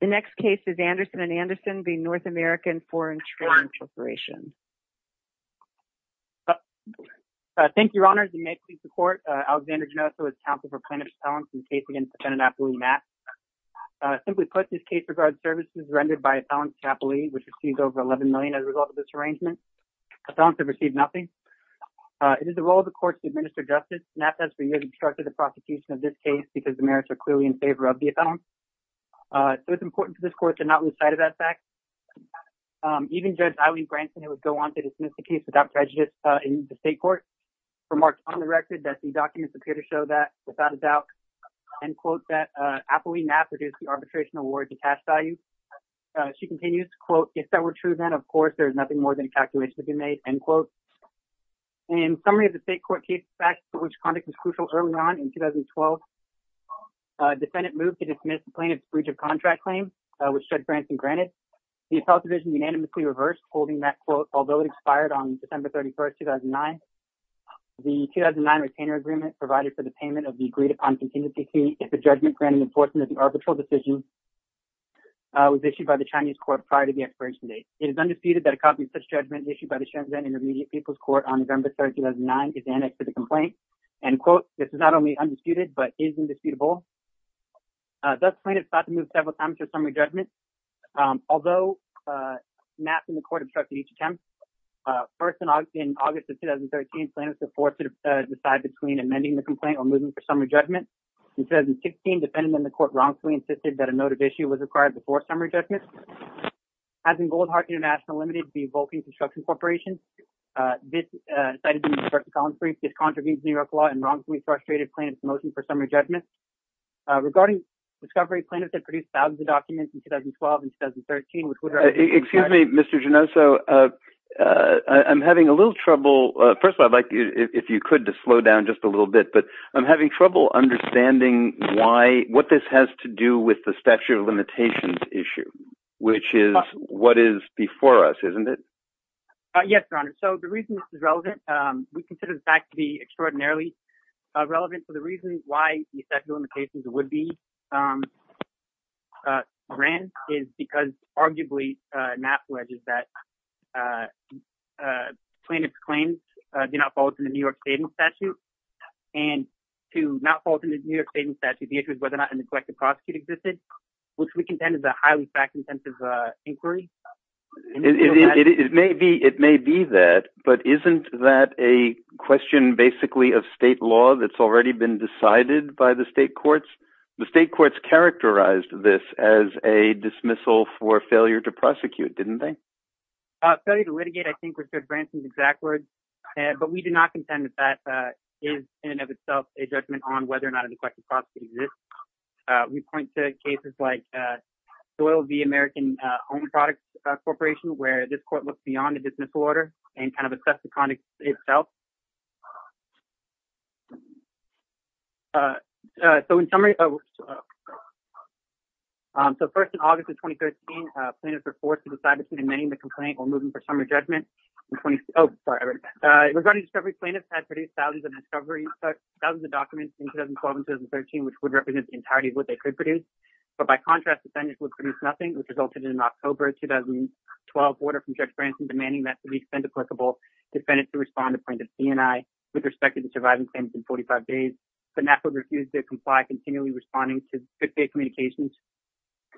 The next case is Anderson & Anderson v. North American Foreign Trade Corporation. Thank you, Your Honors, and may it please the Court, Alexander Genoso is counsel for plaintiff's appellants in the case against the Pennanapoli MAPS. Simply put, this case regards services rendered by a felon's capital e, which exceeds over $11 million as a result of this arrangement. The felons have received nothing. It is the role of the Court to administer justice. MAPS has for years obstructed the importance of this Court to not lose sight of that fact. Even Judge Eileen Branson, who would go on to dismiss the case without prejudice in the State Court, remarked on the record that the documents appear to show that, without a doubt, MAPS reduced the arbitration award to cash value. She continues, If that were true then, of course, there is nothing more than a calculation to be made. In summary of the State Court case facts for which conduct was crucial early on in 2012, a defendant moved to dismiss the plaintiff's breach of contract claim, which Judge Branson granted. The appellate division unanimously reversed, holding that, although it expired on December 31, 2009, the 2009 retainer agreement provided for the payment of the agreed-upon contingency fee if the judgment granted enforcement of the arbitral decision was issued by the Chinese Court prior to the expiration date. It is undisputed that a copy of such judgment issued by the Shenzhen Intermediate People's Court on November 3, 2009 is annexed to the complaint. This is not only undisputed, but is indisputable. Thus, the plaintiff sought to move several times for summary judgment, although MAPS and the Court obstructed each attempt. First, in August of 2013, plaintiffs were forced to decide between amending the complaint or moving for summary judgment. In 2016, the defendant and the Court wrongfully insisted that a noted issue was required before summary judgment. As in Goldheart International Limited v. Vulcan Construction Corporation, this, cited in Mr. Collins' brief, discontributes New York law and wrongfully frustrated plaintiffs' motion for summary judgment. Regarding discovery, plaintiffs had produced thousands of documents in 2012 and 2013, which would— Excuse me, Mr. Genoso. I'm having a little trouble—first of all, I'd like, if you could, to slow down just a little bit, but I'm having trouble understanding what this has to do with the statute of limitations issue, which is what is before us, isn't it? Yes, Your Honor. So, the reason this is relevant—we consider the fact to be extraordinarily relevant for the reason why the statute of limitations would be ran is because, arguably, MAPS pledges that plaintiffs' claims do not fall within the New York statement statute, and to not fall within the New York statement statute, the issue is whether or not a neglected prosecutor existed, which we contend is a highly fact-intensive inquiry. It may be that, but isn't that a question, basically, of state law that's already been decided by the state courts? The state courts characterized this as a dismissal for failure to prosecute, didn't they? Failure to litigate, I think, was Judge Branson's exact words, but we do not contend that that is, in and of itself, a judgment on whether or not a neglected prosecutor exists. We point to cases like Doyle v. American Own Products Corporation, where this court looked beyond a dismissal order and kind of assessed the conduct itself. So, in summary—so, first, in August of 2013, plaintiffs were forced to decide between amending the complaint or moving for summary judgment. Oh, sorry, I read it back. Regarding discovery, plaintiffs had produced thousands of discovery—thousands of documents in 2012 and 2013, which would represent the entirety of what they could produce. But, by contrast, defendants would produce nothing, which resulted in an October 2012 order from Judge Branson demanding that, to the extent applicable, defendants should respond to plaintiffs' D&I with respect to the surviving plaintiffs in 45 days, but NAFTA would refuse to comply, continually responding to fifth-day communications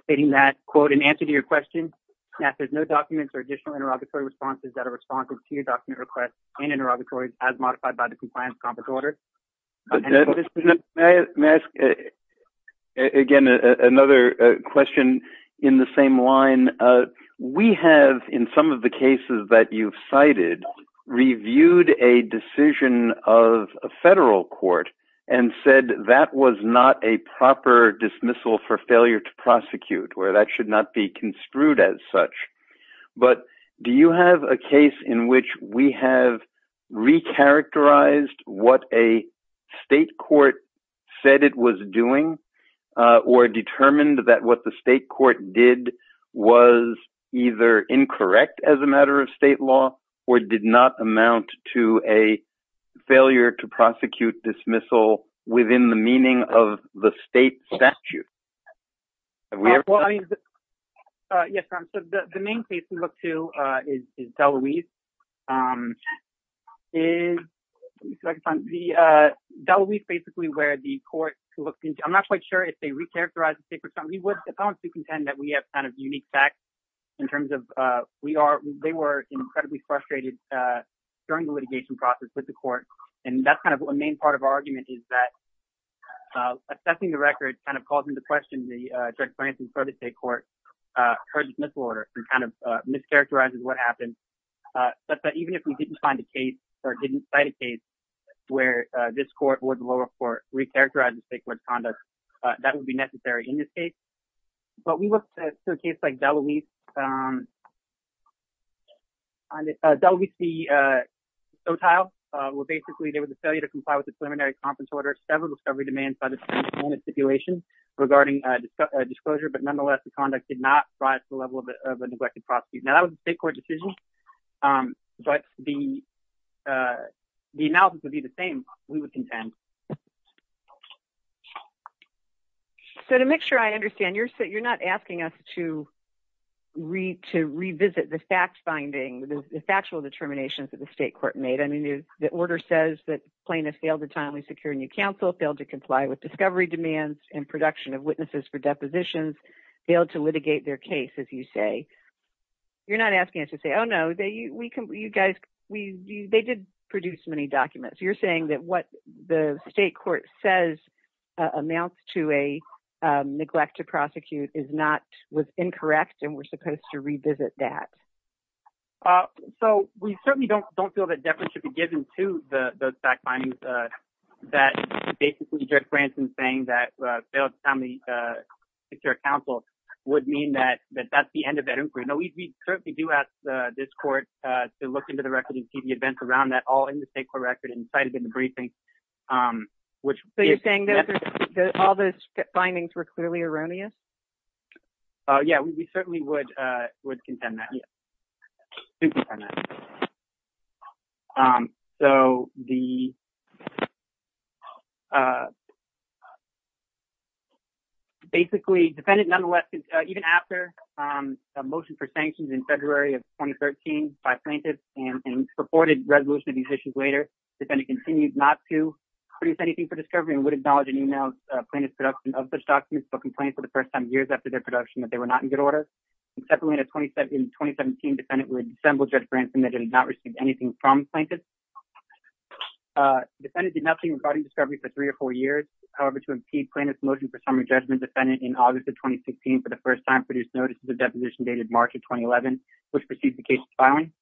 stating that, quote, in answer to your question, NAFTA's no documents or additional interrogatory responses that are responsive to your document requests and interrogatories as modified by the compliance order. May I ask, again, another question in the same line? We have, in some of the cases that you've cited, reviewed a decision of a federal court and said that was not a proper dismissal for failure to prosecute, or that should not be construed as such. But do you have a case in which we have re-characterized what a state court said it was doing, or determined that what the state court did was either incorrect as a matter of state law or did not amount to a failure to prosecute dismissal within the meaning of the state statute? Have we ever done that? Yes, so the main case we look to is Dela Luz. Dela Luz, basically, where the court, I'm not quite sure if they re-characterized the state court. We would, if I want to contend, that we have kind of unique facts in terms of we are, they were incredibly frustrated during the litigation process with the court. And that's kind of a main part of our argument is that assessing the record kind of calls into question the judge's plans in front of the state court for the dismissal order and kind of mischaracterizes what happened. But even if we didn't find a case or didn't cite a case where this court or the lower court re-characterized the state court's conduct, that would be necessary in this case. But we look to a case like Dela Luz, Dela Luz v. Sotile, where basically there was a failure to comply with the stipulation regarding a disclosure, but nonetheless, the conduct did not rise to the level of a neglected prosecutor. Now that was a state court decision, but the analysis would be the same, we would contend. So to make sure I understand, you're not asking us to revisit the fact-finding, the factual determinations that the state court made. I mean, the order says that plaintiffs failed to timely secure new counsel, failed to comply with discovery demands and production of witnesses for depositions, failed to litigate their case, as you say. You're not asking us to say, oh no, they did produce many documents. You're saying that what the state court says amounts to a neglect to prosecute was incorrect and we're supposed to revisit that. Uh, so we certainly don't feel that deference should be given to those fact-findings, that basically Judge Branson saying that failed to timely secure counsel would mean that that's the end of that inquiry. No, we certainly do ask this court to look into the record and see the events around that all in the state court record and cite it in the briefing. So you're saying all those findings were clearly erroneous? Yeah, we certainly would contend that. Um, so the, uh, basically defendant nonetheless, uh, even after, um, the motion for sanctions in February of 2013 by plaintiffs and purported resolution of these issues later, defendant continued not to produce anything for discovery and would acknowledge and email plaintiff's production of such documents, but complained for the first time years after their production that they were not in good order. And separately in 2017, defendant would assemble Judge Branson that did not receive anything from plaintiffs. Uh, defendant did nothing regarding discovery for three or four years. However, to impede plaintiff's motion for summary judgment, defendant in August of 2016, for the first time produced notices of deposition dated March of 2011, which preceded the case's filing.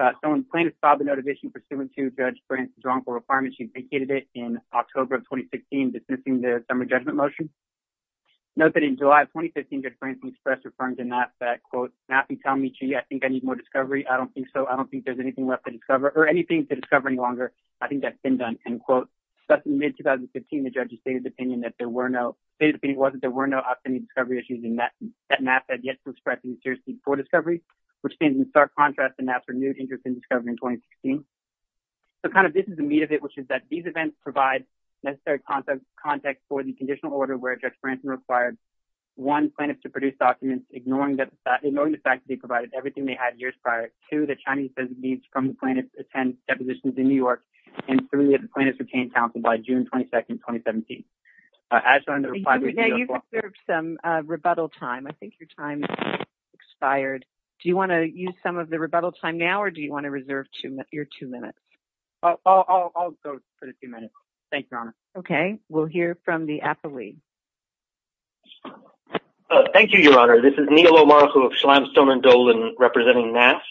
Uh, so when plaintiff filed the notification pursuant to Judge Branson's wrongful requirement, she vacated it in October of 2016, dismissing the summary judgment motion. Note that in July of 2015, Judge Branson expressed, referring to maps that, quote, mapping, telling me, gee, I think I need more discovery. I don't think so. I don't think there's anything left to discover or anything to discover any longer. I think that's been done. And quote, but in mid 2015, the judge's stated opinion that there were no, stated opinion was that there were no outstanding discovery issues in that, that map had yet to express any seriousness for discovery, which stands in stark contrast to maps renewed interest in discovery in 2016. So kind of, this is the meat of it, which is that these events provide necessary context, context for the conditional order where Judge Branson required one plaintiff to produce documents, ignoring that fact, ignoring the fact that they provided everything they had years prior to the Chinese needs from the plaintiff attend depositions in New York. And three of the plaintiffs retained counsel by June 22nd, 2017. Uh, as on the rebuttal time, I think your time expired. Do you want to use some of the rebuttal time now, or do you want to reserve to your two minutes? I'll, I'll, I'll go for a few minutes. Thank you, Your Honor. Okay. We'll hear from the affilee. Thank you, Your Honor. This is Neil O'Mara of Slamstone and Dolan representing NAST.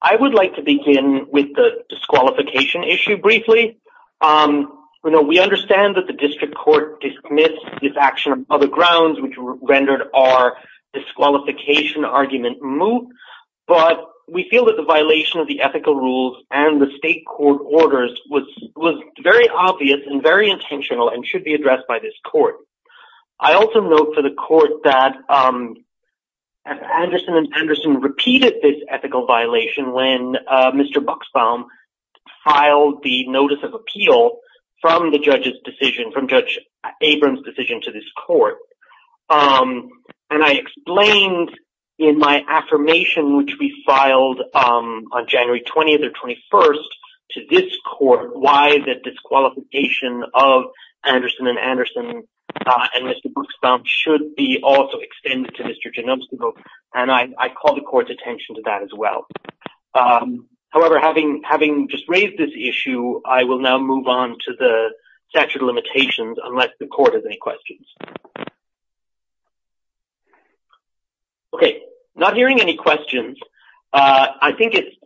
I would like to begin with the disqualification issue briefly. Um, we know we understand that the district court dismissed this action of other grounds, which rendered our disqualification argument moot, but we feel that the violation of the ethical rules and the state court orders was, was very obvious and very intentional and should be addressed by this court. I also note for the court that, um, Anderson and Anderson repeated this ethical violation when, uh, Mr. Buxbaum filed the notice of appeal from the judge's decision, from Judge Abrams' decision to this court. Um, and I explained in my affirmation, which we filed, um, on January 20th or 21st to this court, why the disqualification of Anderson and Anderson, uh, and Mr. Buxbaum should be also extended to Mr. Ginobstable. And I, I call the court's attention to that as well. Um, however, having, having just raised this issue, I will now move on to the statute of limitations. Are there any questions? Okay. Not hearing any questions. Uh, I think it's,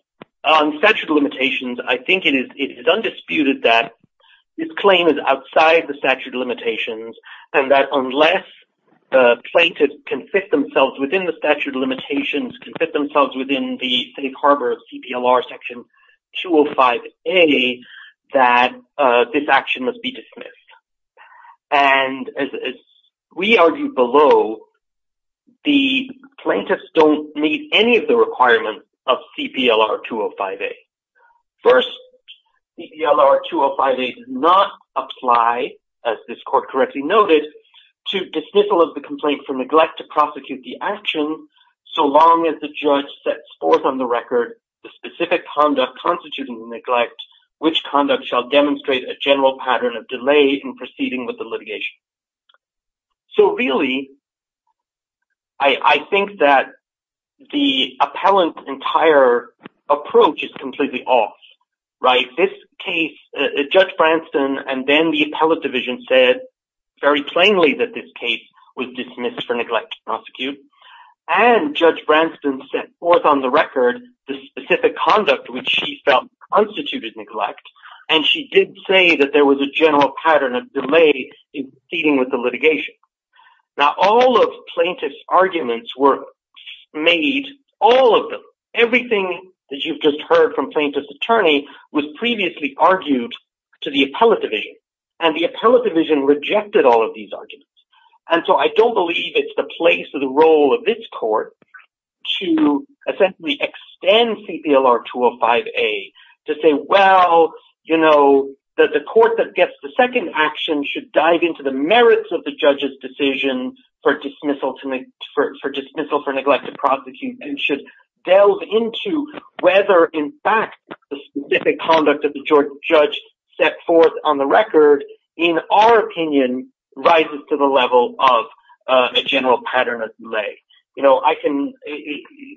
on statute of limitations, I think it is, it is undisputed that this claim is outside the statute of limitations and that unless the plaintiff can fit themselves within the statute of limitations, can fit themselves within the safe harbor of CPLR Section 205A, that, uh, this action must be dismissed. And as, as we argued below, the plaintiffs don't meet any of the requirements of CPLR 205A. First, CPLR 205A does not apply, as this court correctly noted, to dismissal of the complaint for neglect to prosecute the action so long as the judge sets forth on the record the specific conduct constituting neglect, which conduct shall demonstrate a general pattern of delay in proceeding with the litigation. So really, I, I think that the appellant's entire approach is completely off, right? This case, uh, Judge Branstad and then the appellate division said very plainly that this case was dismissed for neglect to prosecute. And Judge Branstad set forth on the record the specific conduct which she felt constituted neglect, and she did say that there was a general pattern of delay in proceeding with the litigation. Now all of plaintiff's arguments were made, all of them, everything that you've just heard from plaintiff's attorney was previously argued to the appellate division, and the appellate division rejected all of these arguments. And so I don't believe it's the place or the role of this to essentially extend CPLR 205A to say, well, you know, that the court that gets the second action should dive into the merits of the judge's decision for dismissal to make for dismissal for neglect to prosecute and should delve into whether in fact the specific conduct of the judge set forth on the record, in our opinion, rises to the level of a general pattern of delay. You know, I can,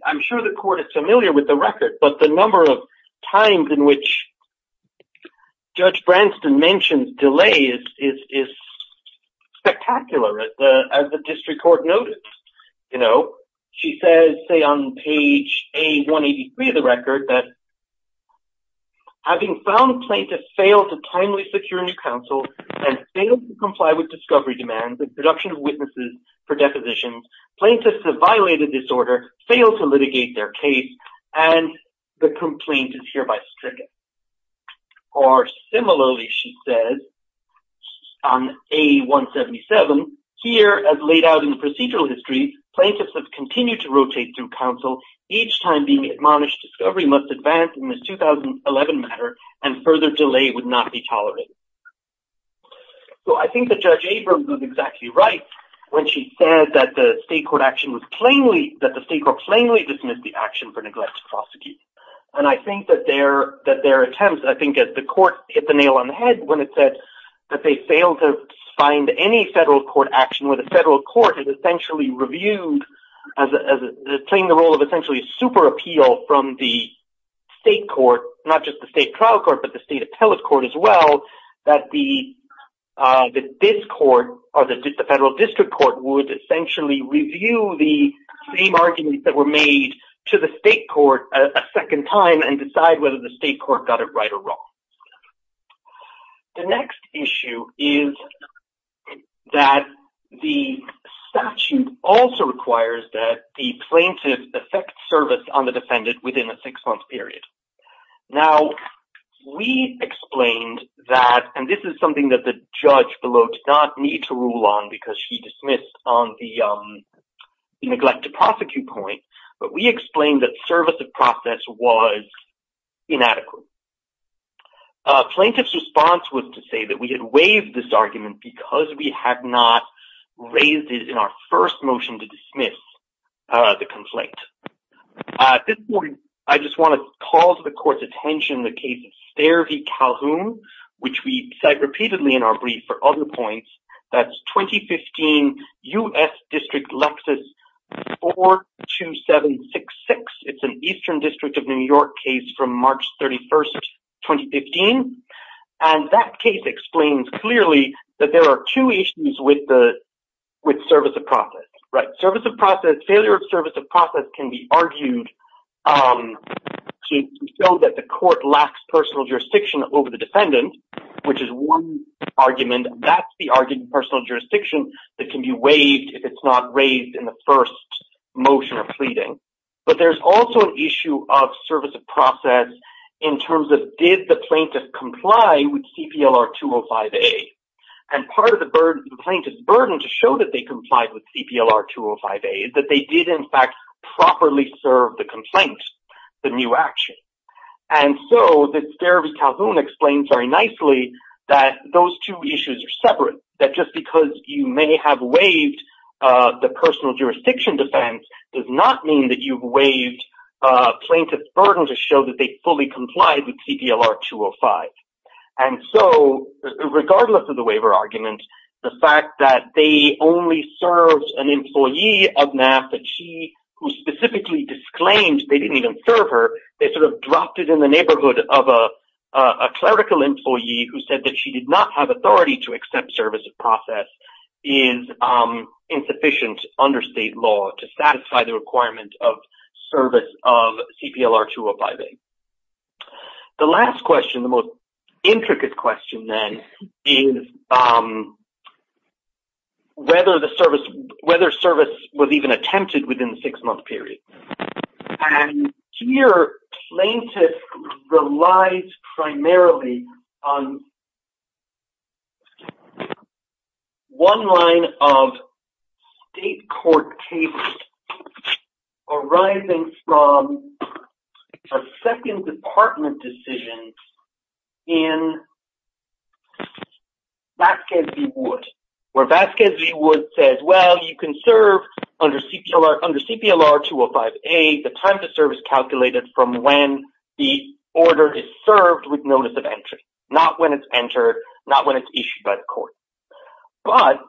I'm sure the court is familiar with the record, but the number of times in which Judge Branstad mentioned delay is spectacular, as the district court noted. You know, she says, say on page A183 of the record, that having found plaintiff failed to timely secure new counsel and failed to comply with discovery demands and production of witnesses for depositions, plaintiffs have violated this order, failed to litigate their case, and the complaint is hereby stricken. Or similarly, she says on A177, here as laid out in the procedural history, plaintiffs have continued to rotate through counsel each time being admonished discovery must advance in this 2011 matter and further delay would not be tolerated. So I think that Judge Abrams was exactly right when she said that the state court action was plainly, that the state court plainly dismissed the action for neglect to prosecute. And I think that their, that their attempts, I think as the court hit the nail on the head when it said that they failed to find any federal court action where the federal court is essentially reviewed as playing the role of essentially super appeal from the state court, not just the state trial court, but the state appellate court as well, that this court or the federal district court would essentially review the same arguments that were made to the state court a second time and decide whether the state court got it right or wrong. The next issue is that the statute also requires that the plaintiff effect service on the defendant within a six-month period. Now we explained that, and this is something that the judge below did not need to rule on because she dismissed on the neglect to prosecute point, but we explained that service of process was inadequate. Plaintiff's response was to say that we had waived this argument because we had not raised it in our first motion to dismiss the complaint. At this point, I just want to call to the court's attention the case of Stair v. Calhoun, which we cite repeatedly in our brief for other points. That's 2015 U.S. District Lexus 42766. It's an Eastern District of New York case from March 31st, 2015, and that case explains clearly that there are two issues with service of process. Failure of service of process can be argued to show that the court lacks personal jurisdiction over the defendant, which is one argument. That's the argument of personal jurisdiction that can be waived if it's not raised in the first motion of pleading. But there's also an issue of service of process in terms of did the plaintiff comply with CPLR 205A. And part of the plaintiff's burden to show that they complied with CPLR 205A is that they did in fact properly serve the complaint, the new action. And so, Stair v. Calhoun explains very nicely that those two issues are separate. That just because you may have waived the personal jurisdiction defense does not mean that you've complied with CPLR 205. And so, regardless of the waiver argument, the fact that they only served an employee of NAF, that she specifically disclaimed they didn't even serve her, they sort of dropped it in the neighborhood of a clerical employee who said that she did not have authority to accept service of process is insufficient under state law to satisfy the requirement of CPLR 205A. The last question, the most intricate question then, is whether the service, whether service was even attempted within the six-month period. And here, plaintiff relies primarily on one line of state court cases arising from a second department decision in Vasquez v. Wood, where Vasquez v. Wood says, well, you can serve under CPLR 205A, the time to serve is calculated from when the order is served with notice of entry, not when it's entered, not when it's issued by the court. But,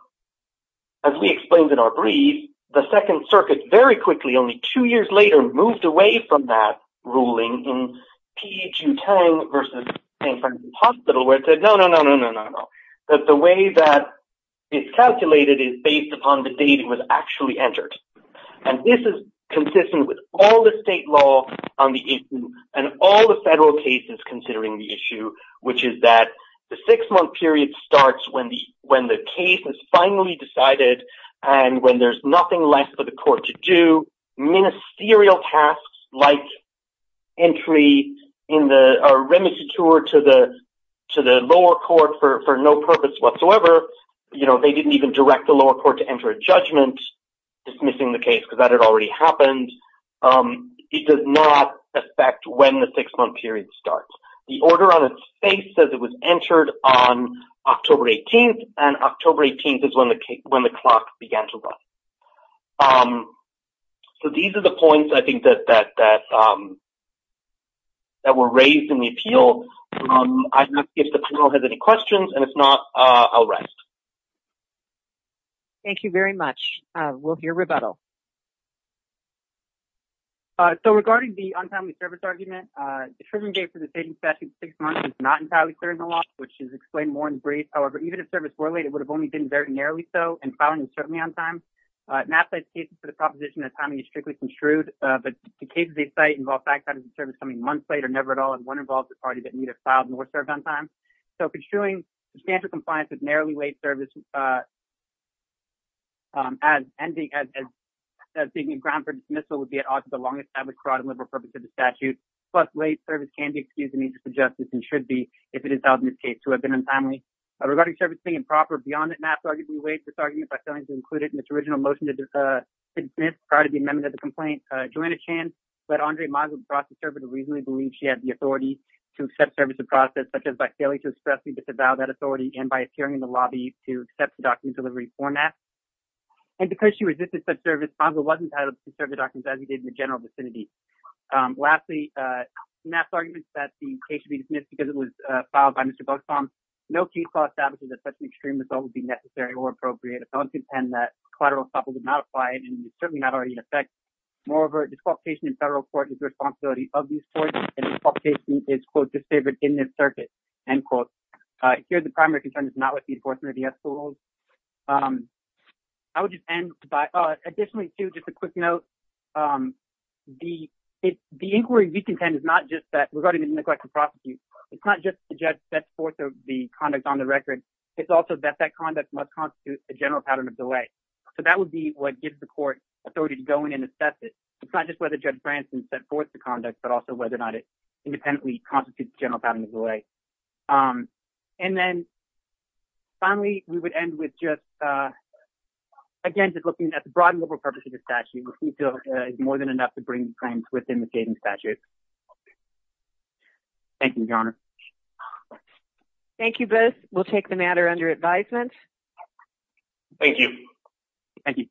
as we explained in our brief, the Second Circuit very quickly, only two years later, moved away from that ruling in P. Ju-Tang v. St. Francis Hospital, where it said, no, no, no, no, no, no, no, that the way that it's calculated is based upon the date it was actually entered. And this is consistent with all the state law on the issue, and all the federal cases considering the issue, which is that the six-month period starts when the case is finally decided, and when there's nothing left for the court to do. Ministerial tasks, like entry in the remissiture to the lower court for no purpose whatsoever, you know, they didn't even direct the lower court to enter a judgment dismissing the case, because that had already happened. It does not affect when the six-month period starts. The order on its face says it was entered on October 18th, and October 18th is when the clock began to run. So, these are the points, I think, that were raised in the appeal. I'd not, I'll rest. Thank you very much. We'll hear rebuttal. So, regarding the untimely service argument, the triggering date for the staging statute, six months, is not entirely clear in the law, which is explained more in brief. However, even if service were late, it would have only been very narrowly so, and filing was certainly on time. NAFSA's case is for the proposition that timing is strictly construed, but the cases they cite involve fact-finding the service coming months late, or never at all, and one involves a party that neither filed nor served on time. So, construing substantial compliance with narrowly late service, as ending, as being a ground for dismissal, would be at odds with the longest average carotid liberal purpose of the statute. Plus, late service can be excused in the interest of justice, and should be, if it is filed in this case, to have been untimely. Regarding service being improper beyond that NAFSA arguably waived this argument by failing to include it in its original motion to dismiss, prior to the amendment of the complaint, Joanna Chan let Andre Maga cross the server to reasonably believe she had the authority to accept service in process, such as by failing to expressly disavow that authority, and by appearing in the lobby to accept the document in delivery format. And because she resisted such service, Maga wasn't entitled to serve the documents as he did in the general vicinity. Lastly, NAFSA's argument that the case should be dismissed because it was filed by Mr. Buxholm, no case law establishes that such an extreme result would be necessary or appropriate, and that collateral estoppel did not apply, and is certainly not already in effect, moreover, disqualification in federal court is the responsibility of these courts, and disqualification is, quote, disfavored in this circuit, end quote. Here, the primary concern is not with the enforcement of the ethical rules. I would just end by, additionally, too, just a quick note, the inquiry we contend is not just that, regarding the neglect to prosecute, it's not just that the judge sets forth the conduct on the record, it's also that that conduct must constitute a general pattern of delay. So that would be what gives the court authority to go in and assess it. It's not just whether Judge Branson set forth the conduct, but also whether or not it independently constitutes a general pattern of delay. And then, finally, we would end with just, again, just looking at the broad and global purpose of the statute, which we feel is more than enough to bring the claims within the statutes. Thank you, Your Honor. Thank you both. We'll take the matter under advisement. Thank you. Thank you.